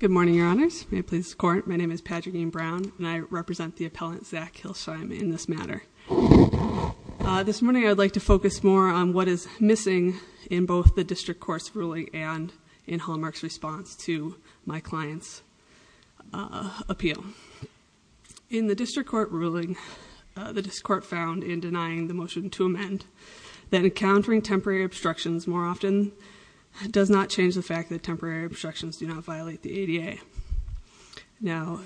Good morning, Your Honors. May it please the Court, my name is Patrick E. Brown and I represent the appellant Zach Hillesheim in this matter. This morning I'd like to focus more on what is missing in both the District Court's ruling and in Hallmark's response to my client's appeal. In the District Court ruling, the District Court found in denying the motion to amend that encountering temporary obstructions more often does not change the fact that temporary obstructions do not violate the ADA. Now,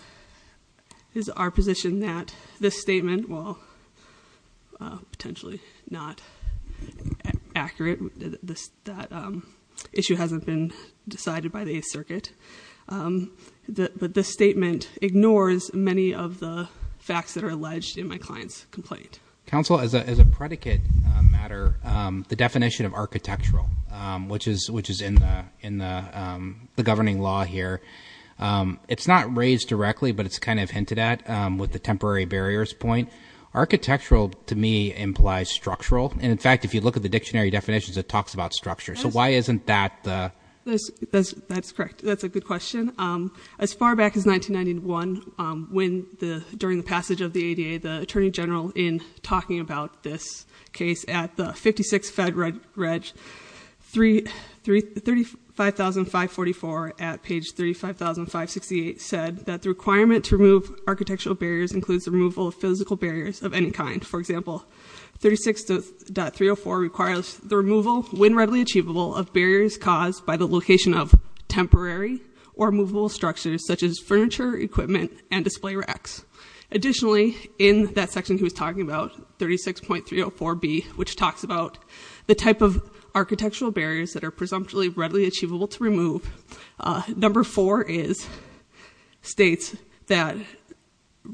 it is our position that this statement, while potentially not accurate, that issue hasn't been decided by the Eighth Circuit, that this statement ignores many of the facts that are alleged in my client's complaint. Counsel, as a predicate matter, the definition of architectural, which is in the governing law here, it's not raised directly, but it's kind of hinted at with the temporary barriers point. Architectural, to me, implies structural. And in fact, if you look at the dictionary definitions, it talks about structure. So why isn't that the... That's correct. That's a good question. As far back as 1991, when the, during the passage of the ADA, the Attorney General, in talking about this case at the 56 Fed Reg, 35,544, at page 35,568, said that the requirement to remove architectural barriers includes the removal of physical barriers of any kind. For example, 36.304 requires the removal, when readily achievable, of barriers caused by the location of temporary or movable structures such as furniture, equipment, and display racks. Additionally, in that section he was talking about, 36.304B, which talks about the type of architectural barriers that are presumptually readily achievable to remove, number four is, states that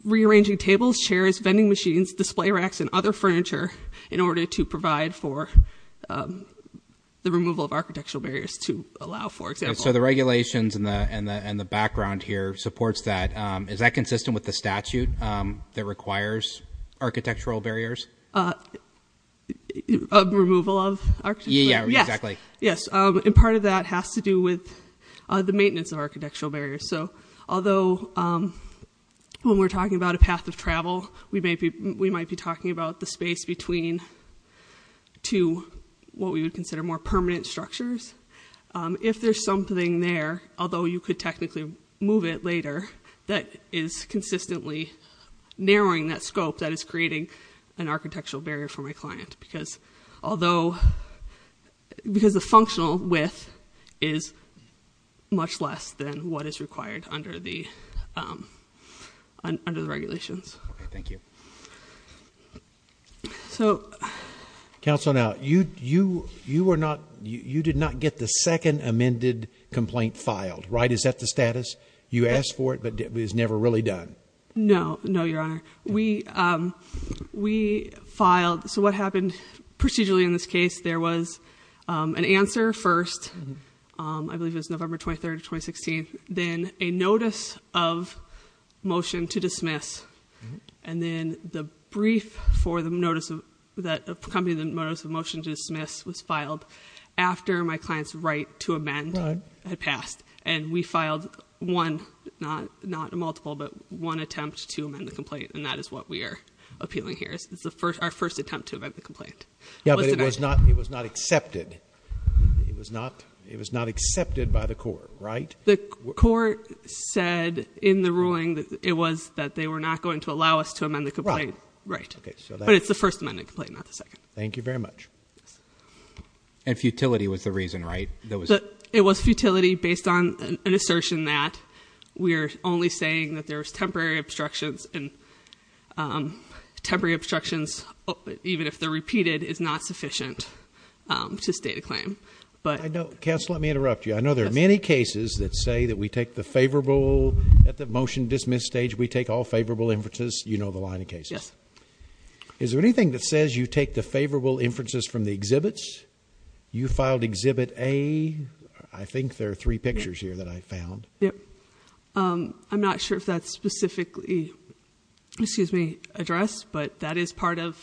rearranging tables, chairs, vending machines, display racks, and other furniture in order to provide for the removal of architectural barriers to allow, for example... The statute here supports that. Is that consistent with the statute that requires architectural barriers? Removal of architectural barriers? Yeah, exactly. Yes, and part of that has to do with the maintenance of architectural barriers. So, although, when we're talking about a path of travel, we might be talking about the space between two, what we would consider more permanent structures. If there's something there, although you could technically move it later, that is consistently narrowing that scope, that is creating an architectural barrier for my client. Because, although, because the functional width is much less than what is required under the regulations. Okay, thank you. So... You were not, you did not get the second amended complaint filed, right? Is that the status? You asked for it, but it was never really done. No, no, your honor. We filed, so what happened procedurally in this case, there was an answer, first, I believe it was November 23rd of 2016, then a notice of motion to dismiss, and then the brief for the notice of, that the notice of motion to dismiss was filed after my client's right to amend had passed. And we filed one, not a multiple, but one attempt to amend the complaint, and that is what we are appealing here. It's our first attempt to amend the complaint. Yeah, but it was not accepted. It was not accepted by the court, right? The court said in the ruling that it was, that they were not going to allow us to amend the complaint. Right. Right. But it's the first amended complaint, not the second. Thank you very much. And futility was the reason, right? It was futility based on an assertion that we're only saying that there's temporary obstructions, and temporary obstructions, even if they're repeated, is not sufficient to state a claim. Counsel, let me interrupt you. I know there are many cases that say that we take the favorable, at the motion to dismiss stage, we take all favorable inferences, you know the line of cases. Yes. Is there anything that says you take the favorable inferences from the exhibits? You filed exhibit A, I think there are three pictures here that I found. Yep. I'm not sure if that's specifically, excuse me, addressed, but that is part of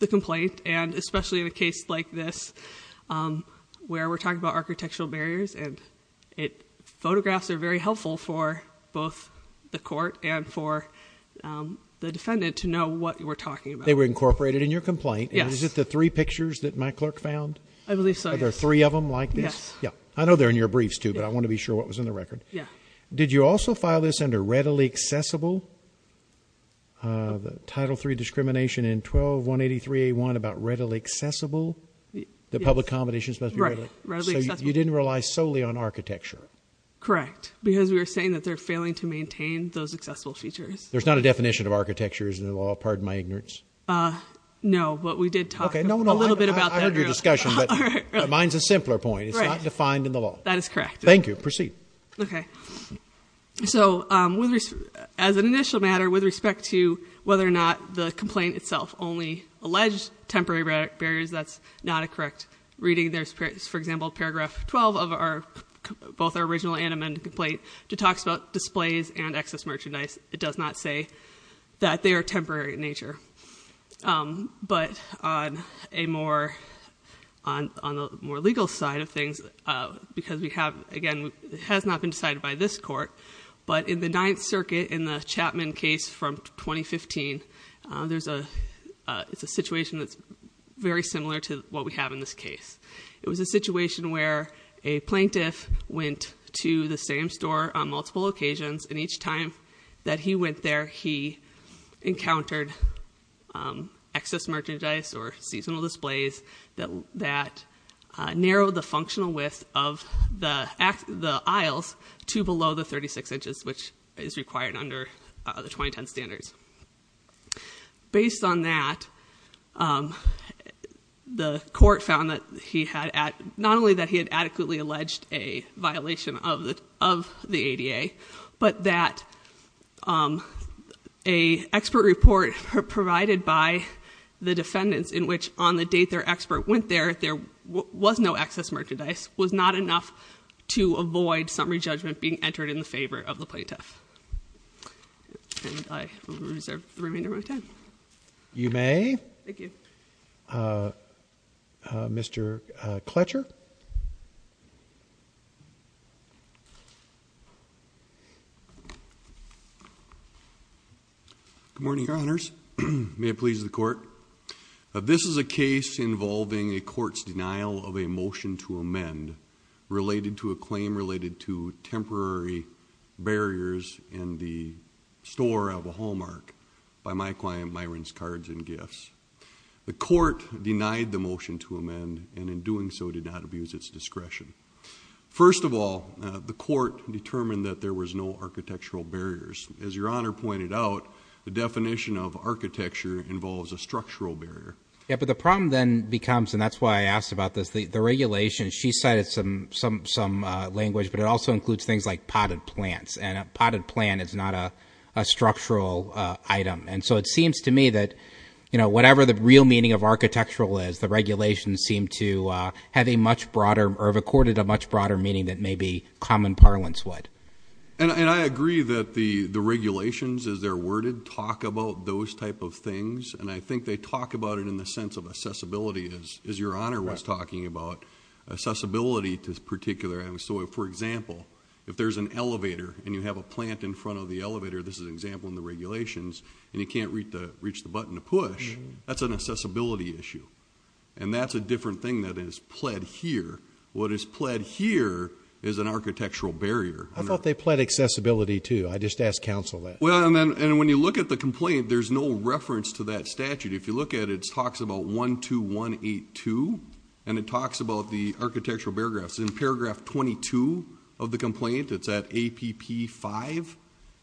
the complaint, and especially in a case like this, where we're talking about architectural barriers, and photographs are very helpful for both the court and for the defendant to know what we're talking about. They were incorporated in your complaint. Yes. And is it the three pictures that my clerk found? I believe so, yes. Are there three of them like this? Yes. Yeah. I know they're in your briefs too, but I want to be sure what was in the record. Yeah. Did you also file this under readily accessible? Title III discrimination in 12-183-A1 about readily accessible? The public accommodations must be readily accessible. Right. Readily accessible. So you didn't rely solely on architecture. Correct. Because we were saying that they're failing to maintain those accessible features. There's not a definition of architecture in the law, pardon my ignorance. No, but we did talk a little bit about that earlier. Okay. No, no. I heard your discussion, but mine's a simpler point. Right. It's not defined in the law. That is correct. Thank you. Proceed. Okay. So as an initial matter, with respect to whether or not the complaint itself only alleged temporary barriers, that's not a correct reading. There's, for example, paragraph 12 of both our original and amended complaint, which talks about displays and excess merchandise. It does not say that they are temporary in nature. But on a more legal side of things, because we have, again, it has not been decided by this court, but in the Ninth Circuit, in the Chapman case from 2015, there's a situation that's very similar to what we have in this case. It was a situation where a plaintiff went to the same store on multiple occasions, and each time that he went there, he encountered excess merchandise or seasonal displays that narrowed the functional width of the aisles to below the 36 inches, which is required under the 2010 standards. Based on that, the court found that he had not only that he had adequately alleged a violation of the ADA, but that an expert report provided by the defendants in which on the date their expert went there, there was no excess merchandise, was not enough to avoid summary judgment being entered in the favor of the plaintiff. And I will reserve the remainder of my time. You may. Thank you. Mr. Kletcher. Good morning, Your Honors. May it please the Court. This is a case involving a court's denial of a motion to amend related to a claim related to temporary barriers in the store of a Hallmark by my client Myron's Cards and Gifts. The court denied the motion to amend and in doing so did not abuse its discretion. First of all, the court determined that there was no architectural barriers. As Your Honor pointed out, the definition of architecture involves a structural barrier. Yeah, but the problem then becomes, and that's why I asked about this, the regulation, she cited some language, but it also includes things like potted plants, and a potted plant is not a structural item. And so it seems to me that, you know, whatever the real meaning of architectural is, the regulations seem to have a much broader or have accorded a much broader meaning than maybe common parlance would. And I agree that the regulations, as they're worded, talk about those type of things, and I think they talk about it in the sense of accessibility, as Your Honor was talking about. Accessibility to this particular item. So, for example, if there's an elevator and you have a plant in front of the elevator, this is an example in the regulations, and you can't reach the button to push, that's an accessibility issue. And that's a different thing that is pled here. What is pled here is an architectural barrier. I thought they pled accessibility, too. I just asked counsel that. Well, and when you look at the complaint, there's no reference to that statute. If you look at it, it talks about 12182, and it talks about the architectural barrier graphs. In paragraph 22 of the complaint, it's at APP5.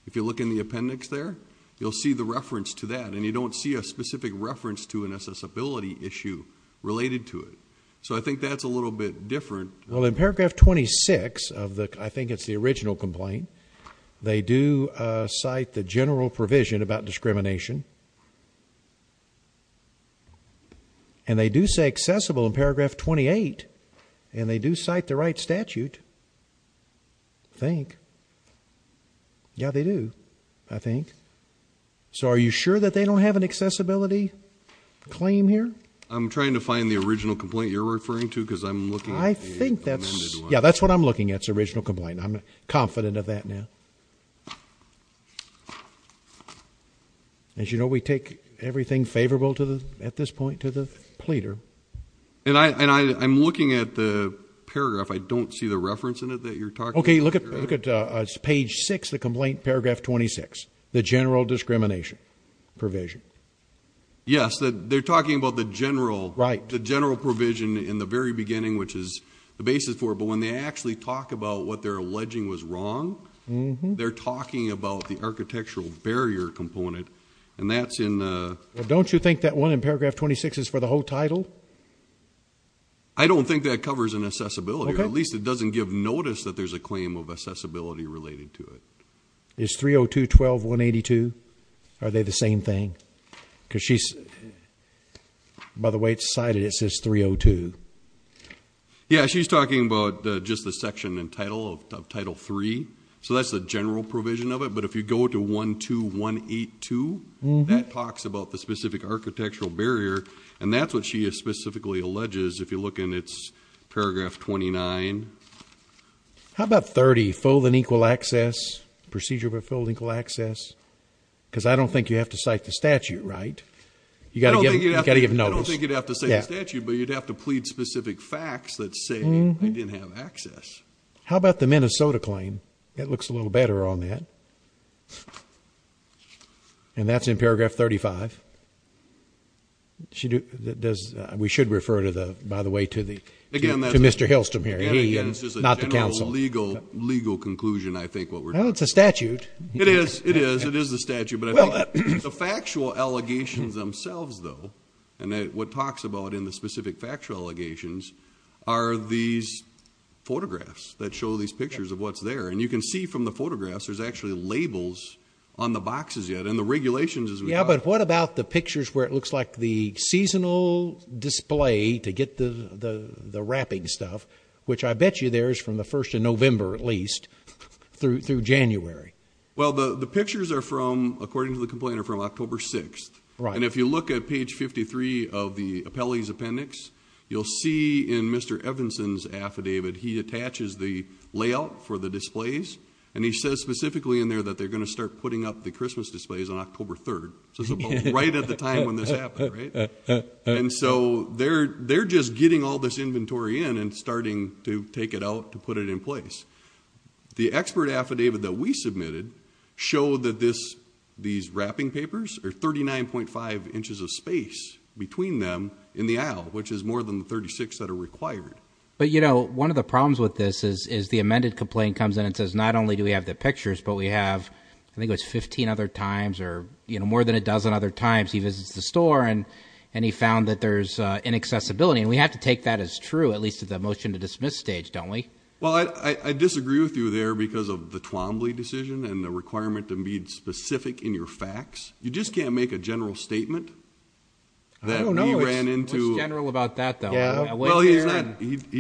If you look in the appendix there, you'll see the reference to that, and you don't see a specific reference to an accessibility issue related to it. So I think that's a little bit different. Well, in paragraph 26 of the, I think it's the original complaint, they do cite the general provision about discrimination, and they do say accessible in paragraph 28, and they do cite the right statute, I think. Yeah, they do, I think. So are you sure that they don't have an accessibility claim here? I'm trying to find the original complaint you're referring to because I'm looking at the amended one. I think that's, yeah, that's what I'm looking at, the original complaint. I'm confident of that now. As you know, we take everything favorable at this point to the pleader. And I'm looking at the paragraph. I don't see the reference in it that you're talking about. Okay, look at page 6 of the complaint, paragraph 26, the general discrimination provision. Yes, they're talking about the general provision in the very beginning, which is the basis for it, but when they actually talk about what they're alleging was wrong, they're talking about the architectural barrier component, and that's in the ‑‑ Don't you think that one in paragraph 26 is for the whole title? I don't think that covers an accessibility, or at least it doesn't give notice that there's a claim of accessibility related to it. Is 302.12.182, are they the same thing? Because she's, by the way it's cited, it says 302. Yeah, she's talking about just the section and title of title 3. So that's the general provision of it, but if you go to 12.182, that talks about the specific architectural barrier, and that's what she specifically alleges if you look in its paragraph 29. How about 30, full and equal access, procedure of full and equal access? Because I don't think you have to cite the statute, right? You've got to give notice. I don't think you'd have to say the statute, but you'd have to plead specific facts that say they didn't have access. How about the Minnesota claim? It looks a little better on that. And that's in paragraph 35. We should refer, by the way, to Mr. Hilston here. Again, it's just a general legal conclusion, I think, what we're talking about. Well, it's a statute. It is, it is, it is a statute. The factual allegations themselves, though, and what it talks about in the specific factual allegations, are these photographs that show these pictures of what's there. And you can see from the photographs there's actually labels on the boxes yet, and the regulations as well. Yeah, but what about the pictures where it looks like the seasonal display to get the wrapping stuff, which I bet you there is from the 1st of November at least through January. Well, the pictures are from, according to the complainant, from October 6th. And if you look at page 53 of the appellee's appendix, you'll see in Mr. Evanson's affidavit he attaches the layout for the displays, and he says specifically in there that they're going to start putting up the Christmas displays on October 3rd. So right at the time when this happened, right? And so they're just getting all this inventory in and starting to take it out to put it in place. The expert affidavit that we submitted showed that these wrapping papers are 39.5 inches of space between them in the aisle, which is more than the 36 that are required. But, you know, one of the problems with this is the amended complaint comes in and says not only do we have the pictures but we have, I think it was 15 other times or more than a dozen other times he visits the store and he found that there's inaccessibility. And we have to take that as true, at least at the motion to dismiss stage, don't we? Well, I disagree with you there because of the Twombly decision and the requirement to be specific in your facts. You just can't make a general statement that he ran into... I don't know what's general about that, though. Well, he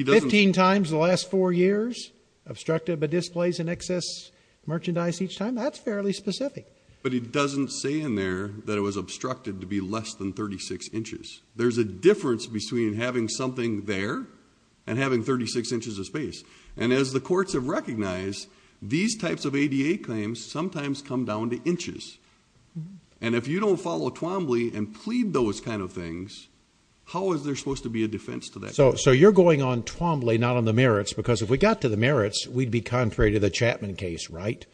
doesn't... 15 times the last four years, obstructed by displays in excess, merchandise each time, that's fairly specific. But he doesn't say in there that it was obstructed to be less than 36 inches. There's a difference between having something there and having 36 inches of space. And as the courts have recognized, these types of ADA claims sometimes come down to inches. And if you don't follow Twombly and plead those kind of things, how is there supposed to be a defense to that? So you're going on Twombly, not on the merits, because if we got to the merits, we'd be contrary to the Chapman case, right?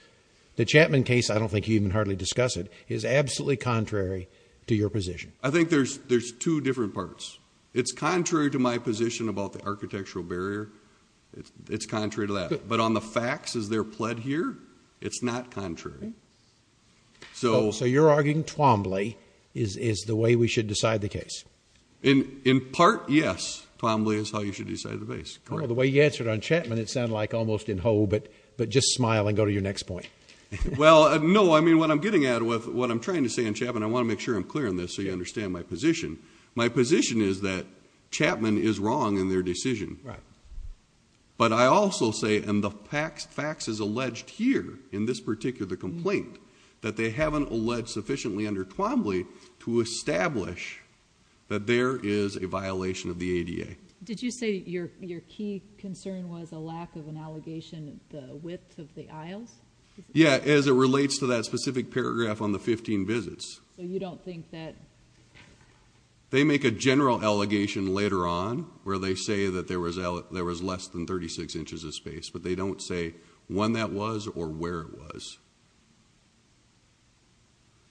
The Chapman case, I don't think you even hardly discuss it, is absolutely contrary to your position. I think there's two different parts. It's contrary to my position about the architectural barrier. It's contrary to that. But on the facts as they're pled here, it's not contrary. So you're arguing Twombly is the way we should decide the case? In part, yes. Twombly is how you should decide the case. The way you answered on Chapman, it sounded like almost in ho, but just smile and go to your next point. Well, no. I mean, what I'm getting at with what I'm trying to say on Chapman, I want to make sure I'm clear on this so you understand my position. My position is that Chapman is wrong in their decision. Right. But I also say, and the facts is alleged here in this particular complaint, that they haven't alleged sufficiently under Twombly to establish that there is a violation of the ADA. Did you say your key concern was a lack of an allegation at the width of the aisles? Yeah, as it relates to that specific paragraph on the 15 visits. So you don't think that? They make a general allegation later on where they say that there was less than 36 inches of space, but they don't say when that was or where it was.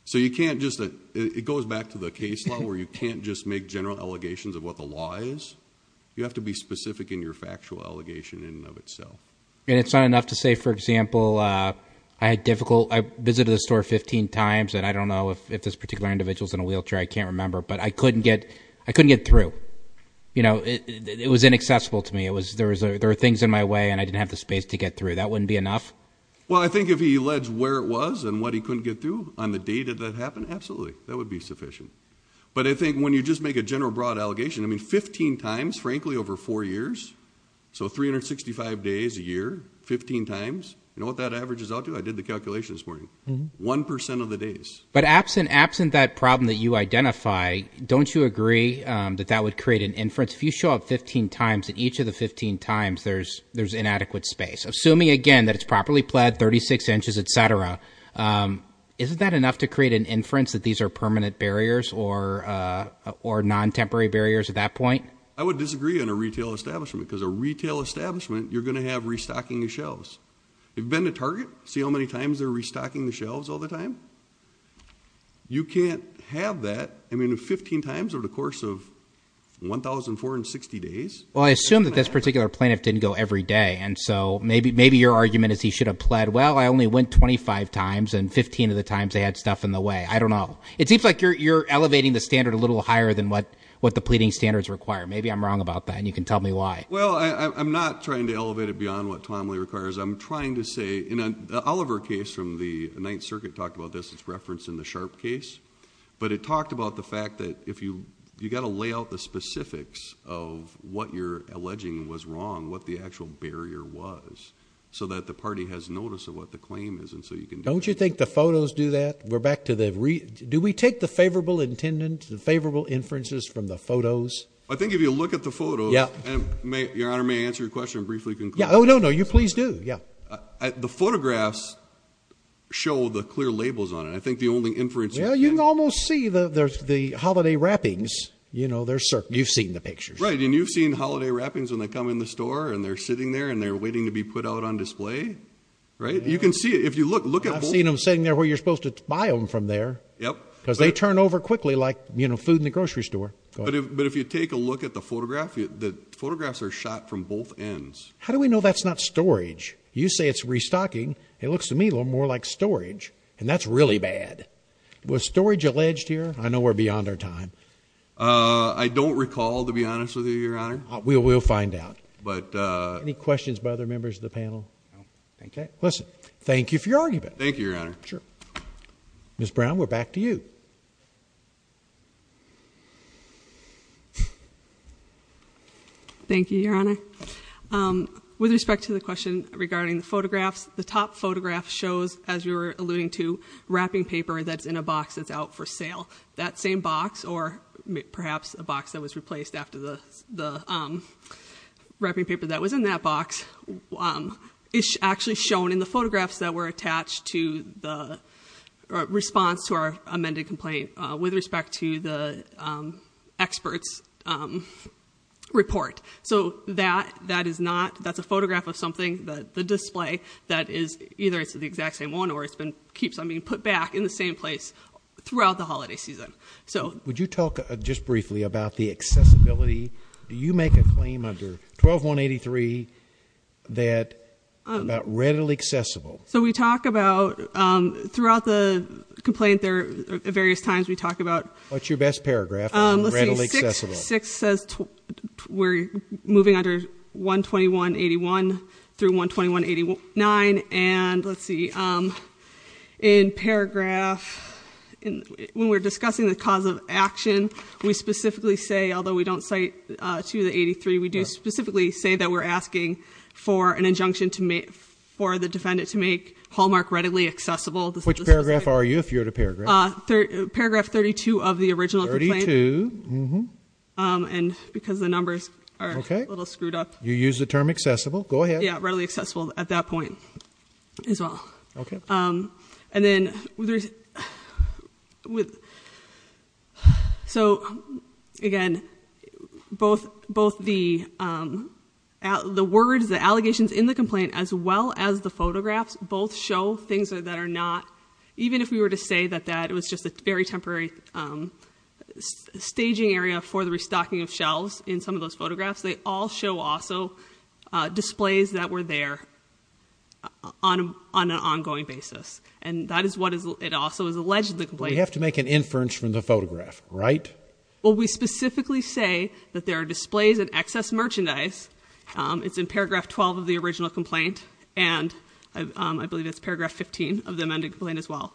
So it goes back to the case law where you can't just make general allegations of what the law is. You have to be specific in your factual allegation in and of itself. And it's not enough to say, for example, I visited the store 15 times, and I don't know if this particular individual is in a wheelchair, I can't remember, but I couldn't get through. It was inaccessible to me. There were things in my way, and I didn't have the space to get through. That wouldn't be enough? Well, I think if he alleged where it was and what he couldn't get through on the day that that happened, absolutely, that would be sufficient. But I think when you just make a general broad allegation, I mean 15 times, frankly, over four years, so 365 days a year, 15 times. You know what that averages out to? I did the calculation this morning. One percent of the days. But absent that problem that you identify, don't you agree that that would create an inference? If you show up 15 times, at each of the 15 times there's inadequate space. Assuming, again, that it's properly plaid, 36 inches, et cetera, isn't that enough to create an inference that these are permanent barriers or non-temporary barriers at that point? I would disagree on a retail establishment, because a retail establishment, you're going to have restocking the shelves. You've been to Target? See how many times they're restocking the shelves all the time? You can't have that. I mean, 15 times over the course of 1,004 and 60 days. Well, I assume that this particular plaintiff didn't go every day, and so maybe your argument is he should have plaid, well, I only went 25 times, and 15 of the times they had stuff in the way. I don't know. It seems like you're elevating the standard a little higher than what the pleading standards require. Maybe I'm wrong about that, and you can tell me why. Well, I'm not trying to elevate it beyond what Tom Lee requires. I'm trying to say in an Oliver case from the Ninth Circuit talked about this, it's referenced in the Sharp case, but it talked about the fact that you've got to lay out the specifics of what you're alleging was wrong, what the actual barrier was, so that the party has notice of what the claim is. Don't you think the photos do that? Do we take the favorable inferences from the photos? I think if you look at the photos, and Your Honor, may I answer your question briefly? Oh, no, no, you please do. The photographs show the clear labels on it. I think the only inference you can make. Well, you can almost see the holiday wrappings. You've seen the pictures. Right, and you've seen holiday wrappings when they come in the store and they're sitting there and they're waiting to be put out on display. Right? You can see it. I've seen them sitting there where you're supposed to buy them from there. Yep. Because they turn over quickly like food in the grocery store. But if you take a look at the photograph, the photographs are shot from both ends. How do we know that's not storage? You say it's restocking. It looks to me a little more like storage, and that's really bad. Was storage alleged here? I know we're beyond our time. I don't recall, to be honest with you, Your Honor. We'll find out. Any questions by other members of the panel? No. Okay. Listen, thank you for your argument. Thank you, Your Honor. Sure. Ms. Brown, we're back to you. Thank you, Your Honor. With respect to the question regarding the photographs, the top photograph shows, as you were alluding to, wrapping paper that's in a box that's out for sale. That same box, or perhaps a box that was replaced after the wrapping paper that was in that box, is actually shown in the photographs that were attached to the response to our amended complaint with respect to the expert's report. So that is not, that's a photograph of something, the display, that is, either it's the exact same one or it keeps on being put back in the same place throughout the holiday season. Would you talk just briefly about the accessibility? Do you make a claim under 12183 that it's about readily accessible? So we talk about, throughout the complaint, there are various times we talk about. What's your best paragraph, readily accessible? Let's see, 6 says we're moving under 12181 through 12189, and let's see, in paragraph, when we're discussing the cause of action, we specifically say, although we don't cite 2 of the 83, we do specifically say that we're asking for an injunction for the defendant to make Hallmark readily accessible. Which paragraph are you if you're at a paragraph? Paragraph 32 of the original complaint. 32, mm-hm. And because the numbers are a little screwed up. You use the term accessible, go ahead. Yeah, readily accessible at that point as well. Okay. And then, so, again, both the words, the allegations in the complaint, as well as the photographs, both show things that are not, even if we were to say that that was just a very temporary staging area for the restocking of shelves in some of those photographs, they all show also displays that were there on an ongoing basis. And that is what it also is alleged in the complaint. We have to make an inference from the photograph, right? Well, we specifically say that there are displays and excess merchandise, it's in paragraph 12 of the original complaint, and I believe it's paragraph 15 of the amended complaint as well,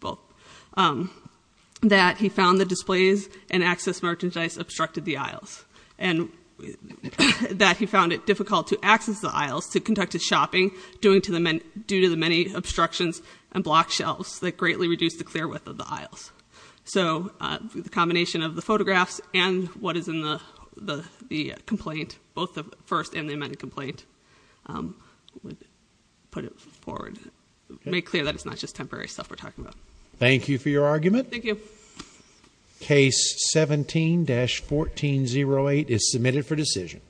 both, that he found the displays and excess merchandise obstructed the aisles. And that he found it difficult to access the aisles to conduct his shopping, due to the many obstructions and blocked shelves that greatly reduced the clear width of the aisles. So the combination of the photographs and what is in the complaint, both the first and the amended complaint, would put it forward, make clear that it's not just temporary stuff we're talking about. Thank you for your argument. Thank you. Case 17-1408 is submitted for decision.